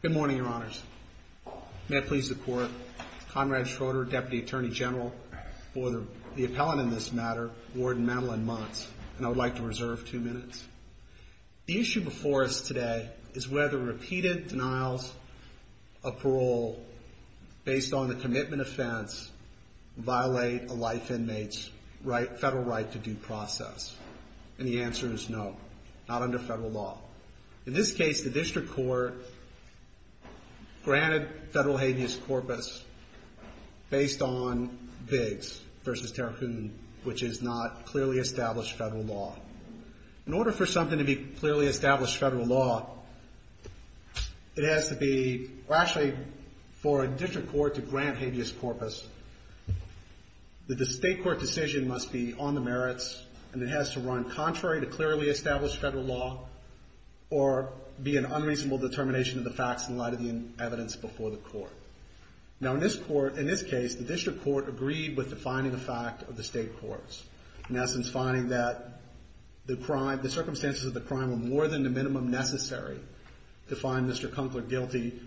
Good morning, Your Honors. May it please the Court, Conrad Schroeder, Deputy Attorney General for the appellant in this matter, Warden Madeline Muntz, and I would like to reserve two minutes. The issue before us today is whether repeated denials of parole based on a commitment offense violate a life inmate's federal right to due process, and the answer is no, not under federal law. In this case, the district court granted federal habeas corpus based on Biggs v. Tarrakoon, which is not clearly established federal law. In order for something to be clearly established federal law, it has to be, or actually, for a district court to grant habeas corpus, the state court decision must be on the merits, and it has to run contrary to clearly established federal law, or be an unreasonable determination of the facts in light of the evidence before the court. Now, in this case, the district court agreed with defining the fact of the state courts, in essence, finding that the circumstances of the crime were more than the minimum necessary to find Mr. Kunkler guilty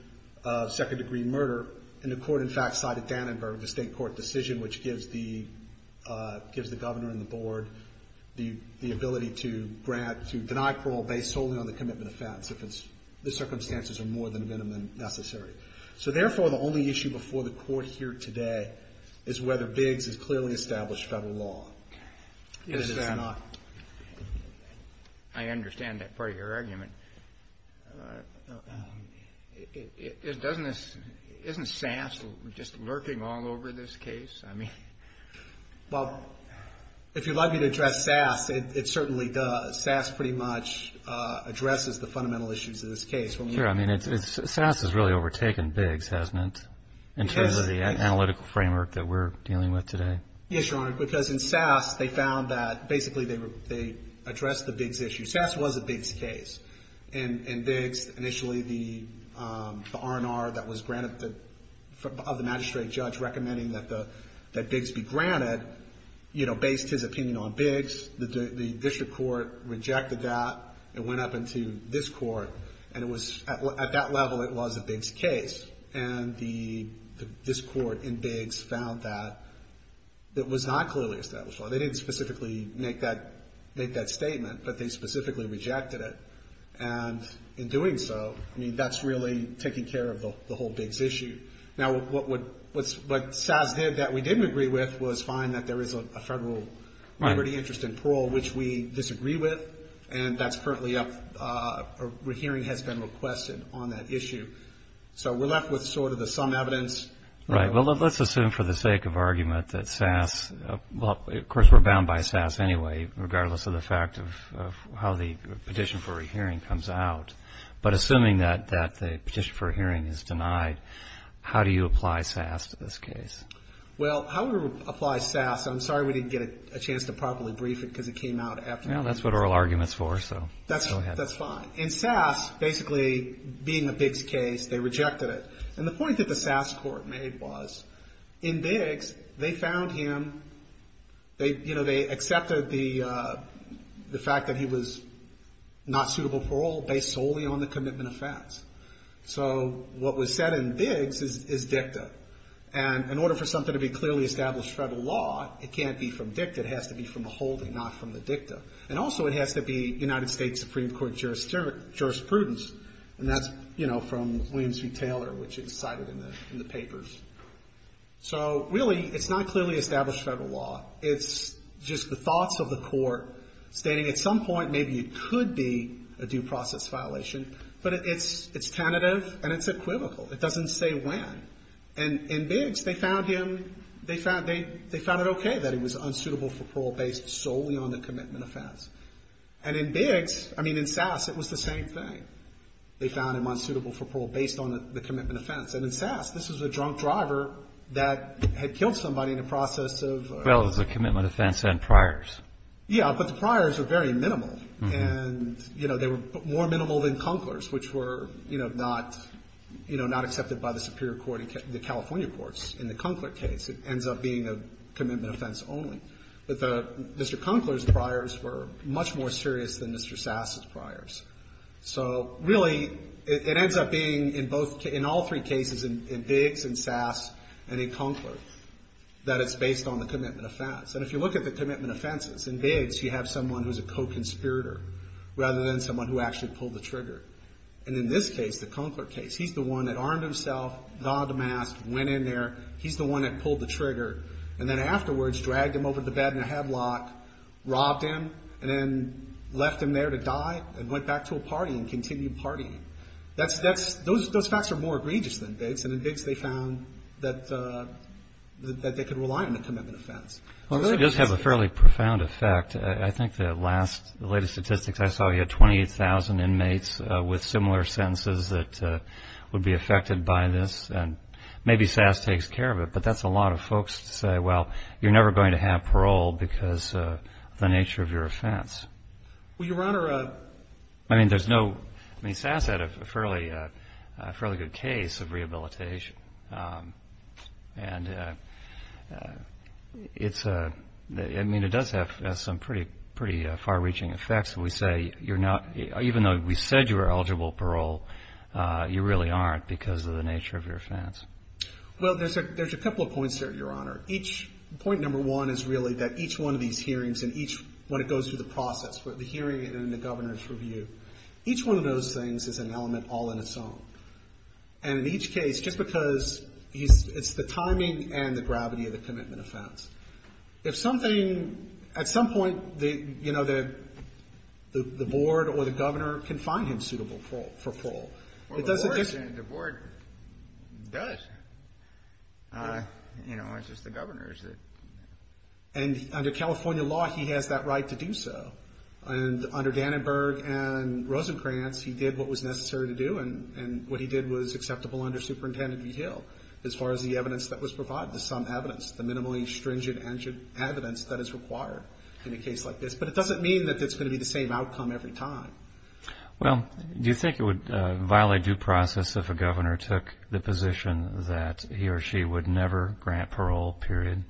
of second-degree murder, and the court, in fact, cited Dannenberg, the state court decision, which gives the governor and the board the ability to deny parole based solely on the commitment offense if the circumstances are more than the minimum necessary. So, therefore, the only issue before the court here today is whether Biggs is clearly established federal law. Even if it's not. I understand that part of your argument. Isn't SAS just lurking all over this case? Well, if you'd like me to address SAS, it certainly does. SAS pretty much addresses the fundamental issues of this case. Sure, I mean, SAS has really overtaken Biggs, hasn't it, in terms of the analytical framework that we're dealing with today? Yes, Your Honor, because in SAS, they found that basically they addressed the Biggs issue. SAS was a Biggs case. In Biggs, initially, the R&R that was granted of the magistrate judge recommending that Biggs be granted, you know, based his opinion on Biggs. The district court rejected that. It went up into this court, and at that level, it was a Biggs case. And this court in Biggs found that it was not clearly established. They didn't specifically make that statement, but they specifically rejected it. And in doing so, I mean, that's really taking care of the whole Biggs issue. Now, what SAS did that we didn't agree with was find that there is a federal liberty interest in parole, which we disagree with, and that's currently up or a hearing has been requested on that issue. So we're left with sort of the sum evidence. Right. Well, let's assume for the sake of argument that SAS, well, of course, we're bound by SAS anyway, regardless of the fact of how the petition for a hearing comes out. But assuming that the petition for a hearing is denied, how do you apply SAS to this case? Well, how we apply SAS, I'm sorry we didn't get a chance to properly brief it because it came out after the hearing. Well, that's what oral argument's for, so go ahead. That's fine. In SAS, basically, being a Biggs case, they rejected it. And the point that the SAS court made was in Biggs, they found him, you know, they accepted the fact that he was not suitable parole based solely on the commitment of facts. So what was said in Biggs is dicta. And in order for something to be clearly established federal law, it can't be from dicta. It has to be from the holding, not from the dicta. And also, it has to be United States Supreme Court jurisprudence. And that's, you know, from William C. Taylor, which is cited in the papers. So really, it's not clearly established federal law. It's just the thoughts of the court stating at some point maybe it could be a due process violation, but it's tentative and it's equivocal. It doesn't say when. And in Biggs, they found him, they found it okay that he was unsuitable for parole based solely on the commitment of facts. And in Biggs, I mean, in SAS, it was the same thing. They found him unsuitable for parole based on the commitment of facts. And in SAS, this was a drunk driver that had killed somebody in the process of ‑‑ Well, it was a commitment of facts and priors. Yeah, but the priors were very minimal. And, you know, they were more minimal than Cunkler's, which were, you know, not, you know, not accepted by the superior court in the California courts in the Cunkler case. It ends up being a commitment of facts only. But Mr. Cunkler's priors were much more serious than Mr. SAS's priors. So, really, it ends up being in both ‑‑ in all three cases, in Biggs, in SAS, and in Cunkler, that it's based on the commitment of facts. And if you look at the commitment of facts, in Biggs, you have someone who's a co‑conspirator rather than someone who actually pulled the trigger. And in this case, the Cunkler case, he's the one that armed himself, nodded the mask, went in there, he's the one that pulled the trigger, and then afterwards dragged him over to the bed in a headlock, robbed him, and then left him there to die and went back to a party and continued partying. Those facts are more egregious than Biggs. And in Biggs, they found that they could rely on the commitment of facts. Well, it does have a fairly profound effect. I think the last ‑‑ the latest statistics I saw, you had 28,000 inmates with similar sentences that would be affected by this, and maybe SAS takes care of it. But that's a lot of folks to say, well, you're never going to have parole because of the nature of your offense. Well, Your Honor, I mean, there's no ‑‑ I mean, SAS had a fairly good case of rehabilitation. And it's a ‑‑ I mean, it does have some pretty far‑reaching effects. We say you're not ‑‑ even though we said you were eligible for parole, you really aren't because of the nature of your offense. Well, there's a couple of points there, Your Honor. Each ‑‑ point number one is really that each one of these hearings and each ‑‑ when it goes through the process for the hearing and the governor's review, each one of those things is an element all in its own. And in each case, just because it's the timing and the gravity of the commitment offense. If something ‑‑ at some point, you know, the board or the governor can find him suitable for parole. Well, the board does. You know, it's just the governor. And under California law, he has that right to do so. And under Dannenberg and Rosenkranz, he did what was necessary to do. And what he did was acceptable under Superintendent Vigil as far as the evidence that was provided, the sum evidence, the minimally stringent evidence that is required in a case like this. But it doesn't mean that it's going to be the same outcome every time. Well, do you think it would violate due process if a governor took the position that he or she would never grant parole, period?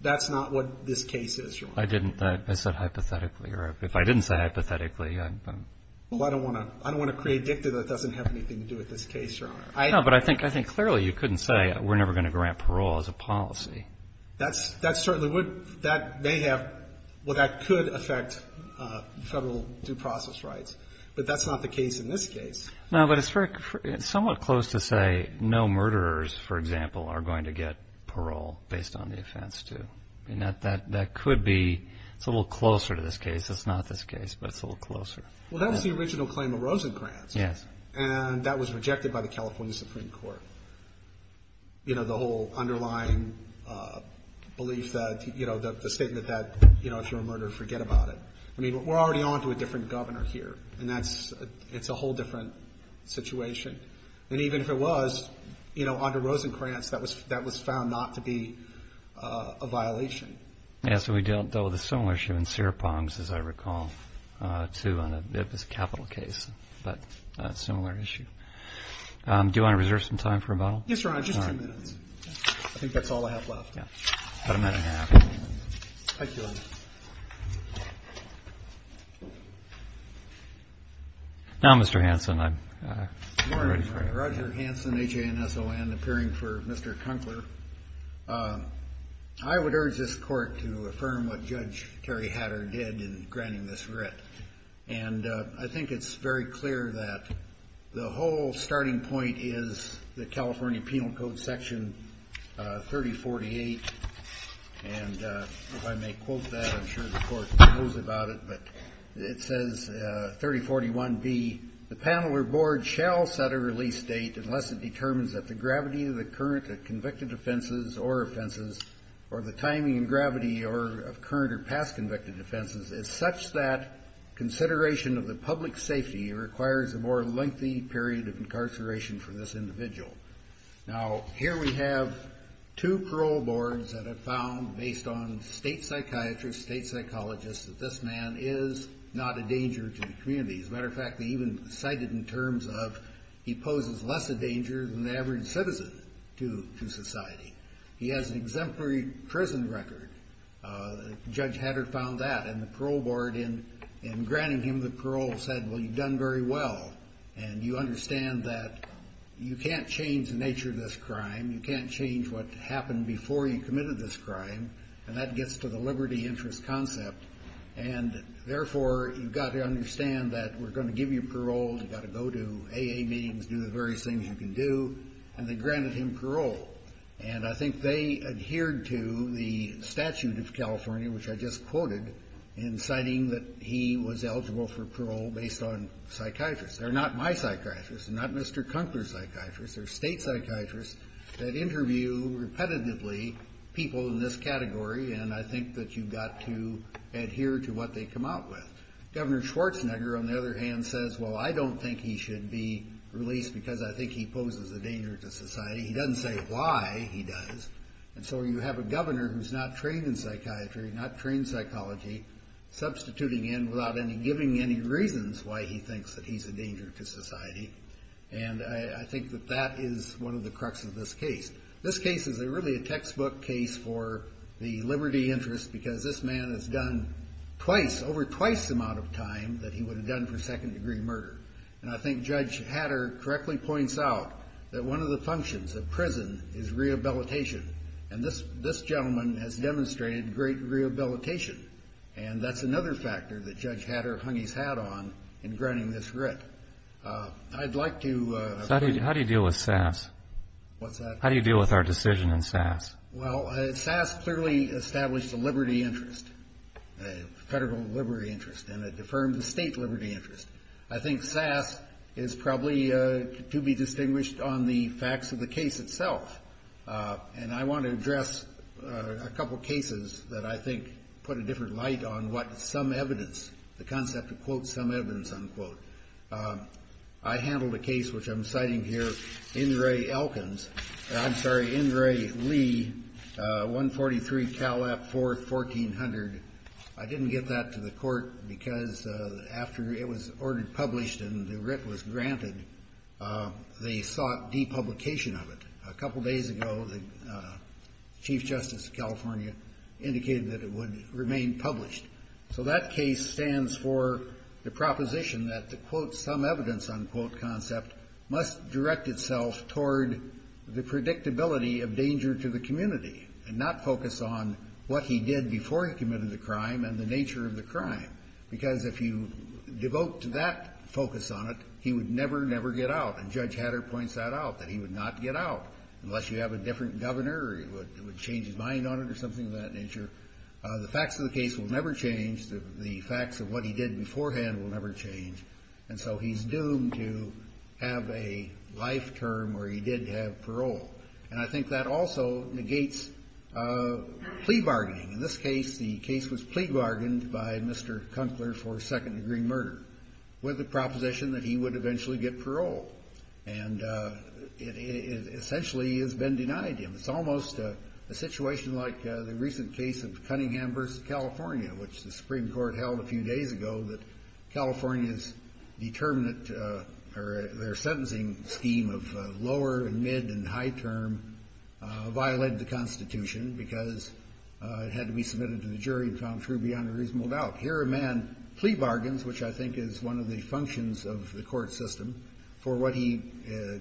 That's not what this case is, Your Honor. I didn't ‑‑ I said hypothetically. If I didn't say hypothetically, I'm ‑‑ Well, I don't want to create dicta that doesn't have anything to do with this case, Your Honor. No, but I think clearly you couldn't say we're never going to grant parole as a policy. That's ‑‑ that certainly would ‑‑ that may have ‑‑ well, that could affect federal due process rights. But that's not the case in this case. No, but it's somewhat close to say no murderers, for example, are going to get parole based on the offense, too. And that could be ‑‑ it's a little closer to this case. It's not this case, but it's a little closer. Well, that was the original claim of Rosenkranz. Yes. And that was rejected by the California Supreme Court. You know, the whole underlying belief that, you know, the statement that, you know, if you're a murderer, forget about it. I mean, we're already on to a different governor here. And that's ‑‑ it's a whole different situation. And even if it was, you know, under Rosenkranz, that was found not to be a violation. Yes, we dealt with a similar issue in Serapong's, as I recall, too. It was a capital case, but a similar issue. Do you want to reserve some time for rebuttal? Yes, Your Honor. Just ten minutes. I think that's all I have left. About a minute and a half. Thank you, Your Honor. Now, Mr. Hanson, I'm ready for you. Good morning, Your Honor. Roger Hanson, H-A-N-S-O-N, appearing for Mr. Kunkler. I would urge this Court to affirm what Judge Terry Hatter did in granting this writ. And I think it's very clear that the whole starting point is the California Penal Code Section 3048. And if I may quote that, I'm sure the Court knows about it, but it says, 3041B, the panel or board shall set a release date unless it determines that the gravity of the current or convicted offenses or offenses or the timing and gravity of current or past convicted offenses is such that consideration of the public safety requires a more lengthy period of incarceration for this individual. Now, here we have two parole boards that have found, based on state psychiatrists, state psychologists, that this man is not a danger to the community. As a matter of fact, they even cite it in terms of he poses less of a danger than the average citizen to society. He has an exemplary prison record. Judge Hatter found that. And the parole board, in granting him the parole, said, well, you've done very well. And you understand that you can't change the nature of this crime. You can't change what happened before you committed this crime. And that gets to the liberty interest concept. And, therefore, you've got to understand that we're going to give you parole. You've got to go to AA meetings, do the various things you can do. And they granted him parole. And I think they adhered to the statute of California, which I just quoted, in citing that he was eligible for parole based on psychiatrists. They're not my psychiatrists. They're not Mr. Kunkler's psychiatrists. They're state psychiatrists that interview repetitively people in this category, and I think that you've got to adhere to what they come out with. Governor Schwarzenegger, on the other hand, says, well, I don't think he should be released because I think he poses a danger to society. He doesn't say why he does. And so you have a governor who's not trained in psychiatry, not trained in psychology, substituting in without giving any reasons why he thinks that he's a danger to society. And I think that that is one of the crux of this case. This case is really a textbook case for the liberty interest because this man has done twice, over twice the amount of time that he would have done for second-degree murder. And I think Judge Hatter correctly points out that one of the functions of prison is rehabilitation, and this gentleman has demonstrated great rehabilitation, and that's another factor that Judge Hatter hung his hat on in granting this writ. I'd like to ---- How do you deal with SAS? What's that? How do you deal with our decision in SAS? Well, SAS clearly established a liberty interest, a federal liberty interest, and it affirmed the state liberty interest. I think SAS is probably to be distinguished on the facts of the case itself, and I want to address a couple of cases that I think put a different light on what some evidence, the concept of, quote, some evidence, unquote. I handled a case, which I'm citing here, Ingray-Elkins. I'm sorry, Ingray-Lee, 143 Cal F, 4th, 1400. I didn't get that to the court because after it was ordered published and the writ was granted, they sought depublication of it. A couple days ago, the Chief Justice of California indicated that it would remain published. So that case stands for the proposition that the, quote, some evidence, unquote, concept, must direct itself toward the predictability of danger to the community and not focus on what he did before he committed the crime and the nature of the crime. Because if you devote to that focus on it, he would never, never get out. And Judge Hatter points that out, that he would not get out unless you have a different governor or he would change his mind on it or something of that nature. The facts of the case will never change. The facts of what he did beforehand will never change. And so he's doomed to have a life term where he did have parole. And I think that also negates plea bargaining. In this case, the case was plea bargained by Mr. Kunkler for second-degree murder, with the proposition that he would eventually get parole. And it essentially has been denied him. It's almost a situation like the recent case of Cunningham v. California, which the Supreme Court held a few days ago that California's determinant or their sentencing scheme of lower and mid and high term violated the Constitution because it had to be submitted to the jury and found true beyond a reasonable doubt. Here a man plea bargains, which I think is one of the functions of the court system, for what he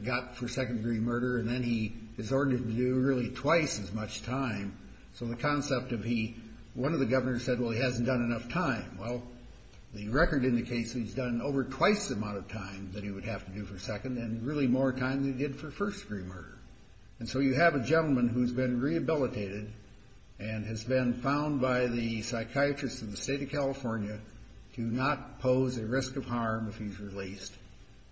got for second-degree murder, and then he is ordered to do really twice as much time. So the concept of he one of the governors said, well, he hasn't done enough time. Well, the record indicates he's done over twice the amount of time that he would have to do for second and really more time than he did for first-degree murder. And so you have a gentleman who's been rehabilitated and has been found by the psychiatrist in the state of California to not pose a risk of harm if he's released,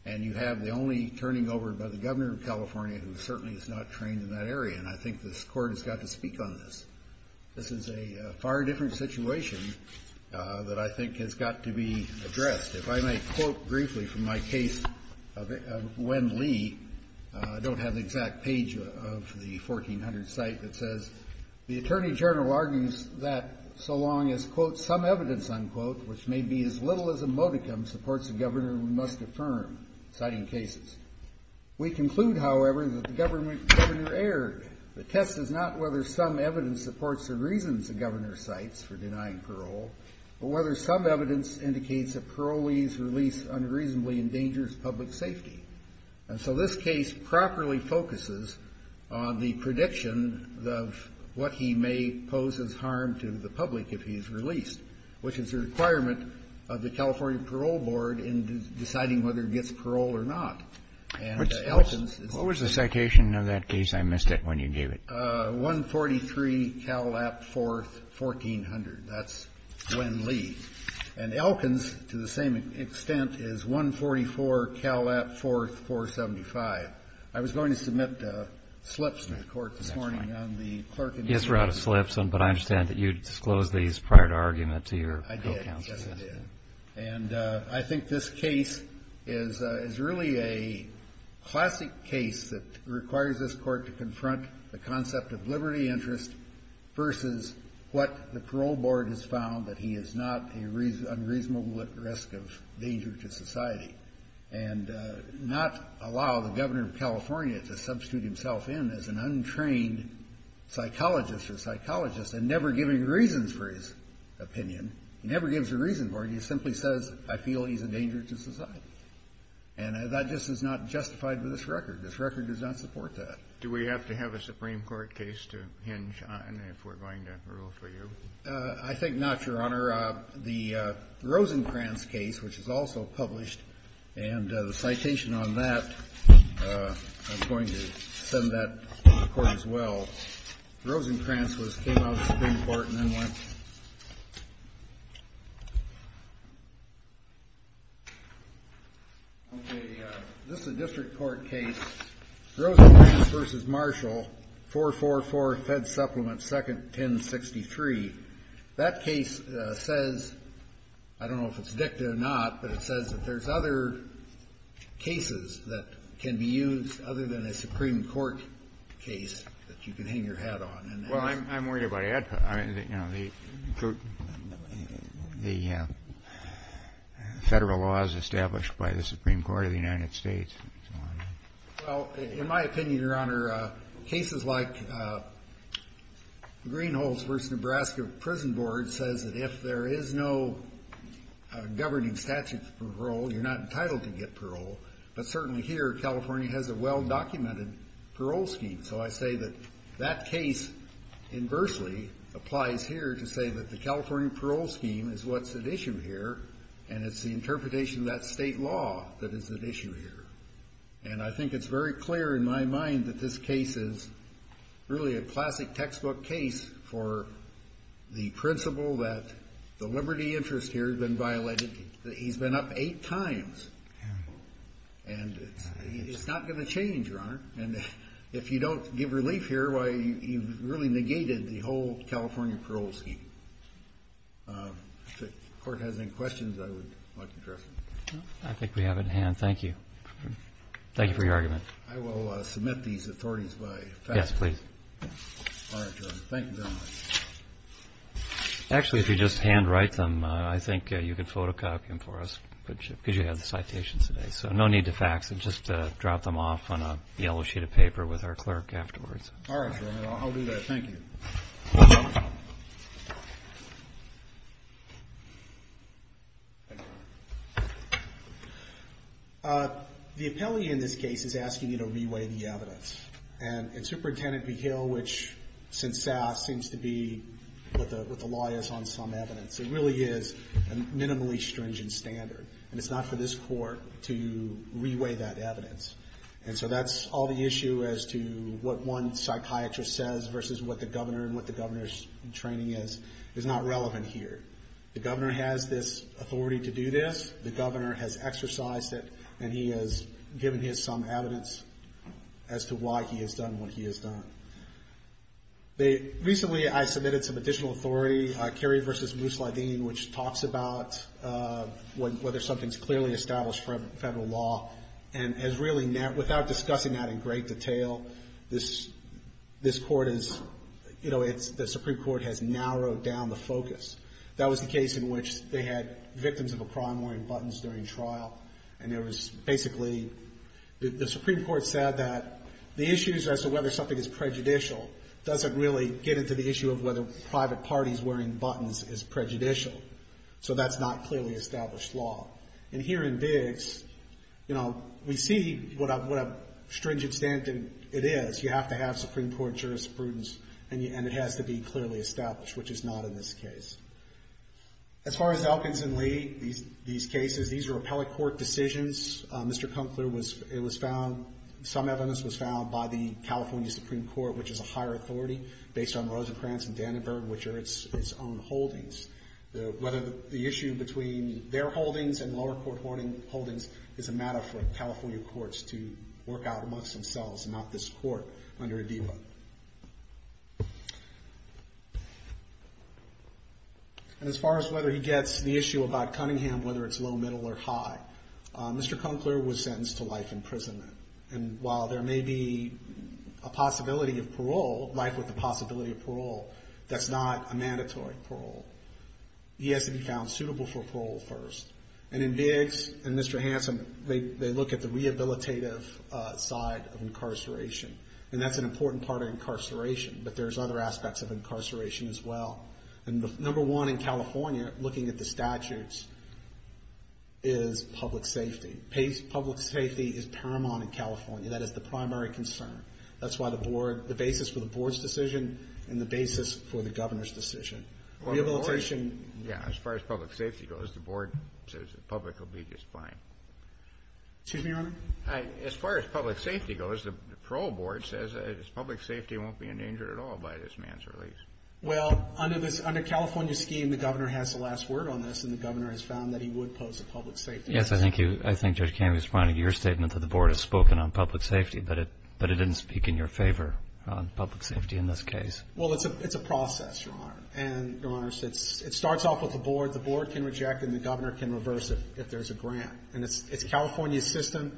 and you have the only turning over by the governor of California who certainly is not trained in that area. And I think this court has got to speak on this. This is a far different situation that I think has got to be addressed. If I may quote briefly from my case of Wen Lee, I don't have the exact page of the 1400 site that says, the attorney general argues that so long as, quote, some evidence, unquote, which may be as little as a modicum supports the governor who must affirm, citing cases. We conclude, however, that the governor erred. The test is not whether some evidence supports the reasons the governor cites for denying parole, but whether some evidence indicates that parolees release unreasonably endangers public safety. And so this case properly focuses on the prediction of what he may pose as harm to the public if he is released, which is a requirement of the California Parole Board in deciding whether it gets parole or not. And Elkins. What was the citation of that case? I missed it when you gave it. 143, Cal Lap, 4th, 1400. That's Wen Lee. And Elkins, to the same extent, is 144, Cal Lap, 4th, 475. I was going to submit slips to the court this morning. That's fine. Yes, we're out of slips, but I understand that you disclosed these prior to argument to your co-counsel. I did, yes, I did. And I think this case is really a classic case that requires this court to confront the concept of liberty interest versus what the parole board has found, that he is not unreasonable at risk of danger to society, and not allow the governor of California to substitute himself in as an untrained psychologist or psychologist and never giving reasons for his opinion. He never gives a reason for it. He simply says, I feel he's a danger to society. And that just is not justified with this record. This record does not support that. Do we have to have a Supreme Court case to hinge on if we're going to rule for you? I think not, Your Honor. The Rosencrantz case, which is also published, and the citation on that, I'm going to send that to the court as well. Rosencrantz came out of the Supreme Court and then went. Okay. This is a district court case, Rosencrantz v. Marshall, 444, Fed Supplement 2nd, 1063. That case says, I don't know if it's dicta or not, but it says that there's other cases that can be used other than a Supreme Court case that you can hang your hat on. Well, I'm worried about ADPA. You know, the federal laws established by the Supreme Court of the United States and so on. Well, in my opinion, Your Honor, cases like Greenholz v. Nebraska Prison Board says that if there is no governing statute for parole, you're not entitled to get parole. But certainly here, California has a well-documented parole scheme. So I say that that case inversely applies here to say that the California parole scheme is what's at issue here, and it's the interpretation of that state law that is at issue here. And I think it's very clear in my mind that this case is really a classic textbook case for the principle that the liberty interest here has been violated. He's been up eight times. And it's not going to change, Your Honor. And if you don't give relief here, you've really negated the whole California parole scheme. If the Court has any questions, I would like to address them. I think we have it in hand. Thank you. Thank you for your argument. I will submit these authorities by fact. Yes, please. All right, Your Honor. Thank you very much. Actually, if you just handwrite them, I think you could photocopy them for us, because you have the citations today. So no need to fax it. Just drop them off on a yellow sheet of paper with our clerk afterwards. All right, Your Honor. I'll do that. Thank you. The appellee in this case is asking you to re-weigh the evidence. And Superintendent McHale, which since SASS seems to be what the law is on some evidence, it really is a minimally stringent standard. And it's not for this Court to re-weigh that evidence. And so that's all the issue as to what one psychiatrist says versus what the governor and what the governor's training is. It's not relevant here. The governor has this authority to do this. The governor has exercised it. And he has given his some evidence as to why he has done what he has done. Recently, I submitted some additional authority, Cary v. Moose Lydine, which talks about whether something's clearly established from federal law. And without discussing that in great detail, the Supreme Court has narrowed down the focus. That was the case in which they had victims of a crime wearing buttons during trial, and it was basically the Supreme Court said that the issues as to whether something is prejudicial doesn't really get into the issue of whether private parties wearing buttons is prejudicial. So that's not clearly established law. And here in Biggs, you know, we see what a stringent standard it is. You have to have Supreme Court jurisprudence, and it has to be clearly established, which is not in this case. As far as Elkins and Lee, these cases, these are appellate court decisions. Mr. Kunkler was found, some evidence was found by the California Supreme Court, which is a higher authority based on Rosencrantz and Dannenberg, which are its own holdings. Whether the issue between their holdings and lower court holdings is a matter for California courts to work out amongst themselves and not this court under Adiba. And as far as whether he gets the issue about Cunningham, whether it's low, middle, or high, Mr. Kunkler was sentenced to life imprisonment. And while there may be a possibility of parole, life with the possibility of parole, that's not a mandatory parole. He has to be found suitable for parole first. And in Biggs and Mr. Hanson, they look at the rehabilitative side of incarceration. And that's an important part of incarceration. But there's other aspects of incarceration as well. And number one in California, looking at the statutes, is public safety. Public safety is paramount in California. That is the primary concern. That's why the board, the basis for the board's decision and the basis for the governor's decision. Rehabilitation. Yeah. As far as public safety goes, the board says the public will be just fine. Excuse me, Your Honor? As far as public safety goes, the parole board says public safety won't be endangered at all by this man's release. Well, under California's scheme, the governor has the last word on this, and the governor has found that he would pose a public safety issue. Yes, I think Judge Kamen was pointing to your statement that the board has spoken on public safety, but it didn't speak in your favor on public safety in this case. Well, it's a process, Your Honor. And, Your Honor, it starts off with the board. The board can reject and the governor can reverse it if there's a grant. And it's California's system,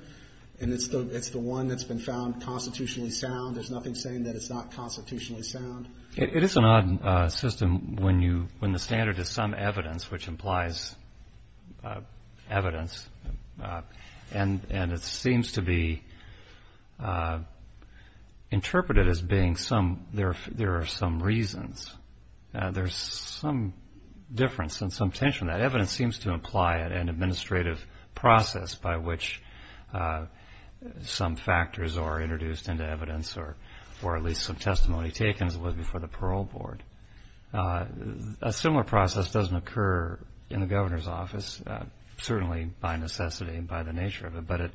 and it's the one that's been found constitutionally sound. There's nothing saying that it's not constitutionally sound. It is an odd system when the standard is some evidence, which implies evidence, and it seems to be interpreted as being there are some reasons. There's some difference and some tension. That evidence seems to imply an administrative process by which some factors are introduced into evidence or at least some testimony taken as it was before the parole board. A similar process doesn't occur in the governor's office, certainly by necessity and by the nature of it, but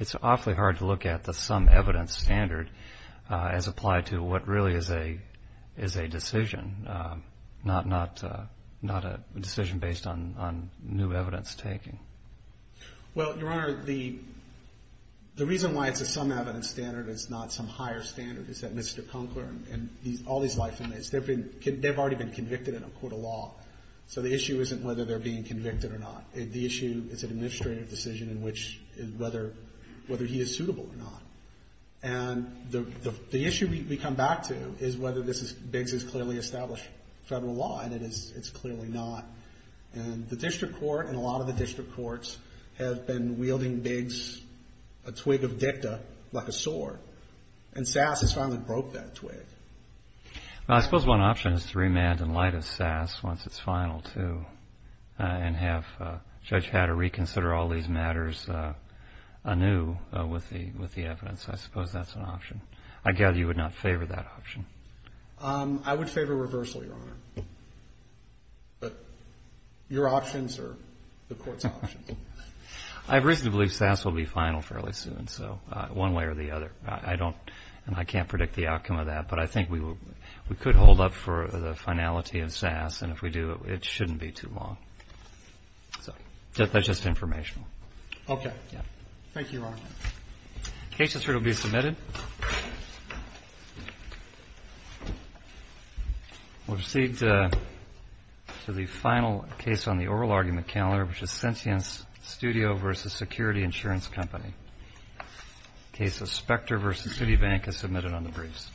it's awfully hard to look at the some evidence standard as applied to what really is a decision, not a decision based on new evidence taken. Well, Your Honor, the reason why it's a some evidence standard is not some higher standard. It's that Mr. Conkler and all these life inmates, they've already been convicted in a court of law. So the issue isn't whether they're being convicted or not. The issue is an administrative decision in which whether he is suitable or not. And the issue we come back to is whether Biggs has clearly established federal law, and it's clearly not. And the district court and a lot of the district courts have been wielding Biggs a twig of dicta like a sword. And SAS has finally broke that twig. Well, I suppose one option is to remand in light of SAS once it's final, too, and have Judge Hatter reconsider all these matters anew with the evidence. I suppose that's an option. I gather you would not favor that option. I would favor reversal, Your Honor. But your options are the court's options. I reasonably believe SAS will be final fairly soon, one way or the other. And I can't predict the outcome of that, but I think we could hold up for the finality of SAS, and if we do, it shouldn't be too long. So that's just informational. Okay. Thank you, Your Honor. The case is here to be submitted. We'll proceed to the final case on the oral argument calendar, which is Sentience Studio v. Security Insurance Company. The case of Specter v. Citibank is submitted on the briefs.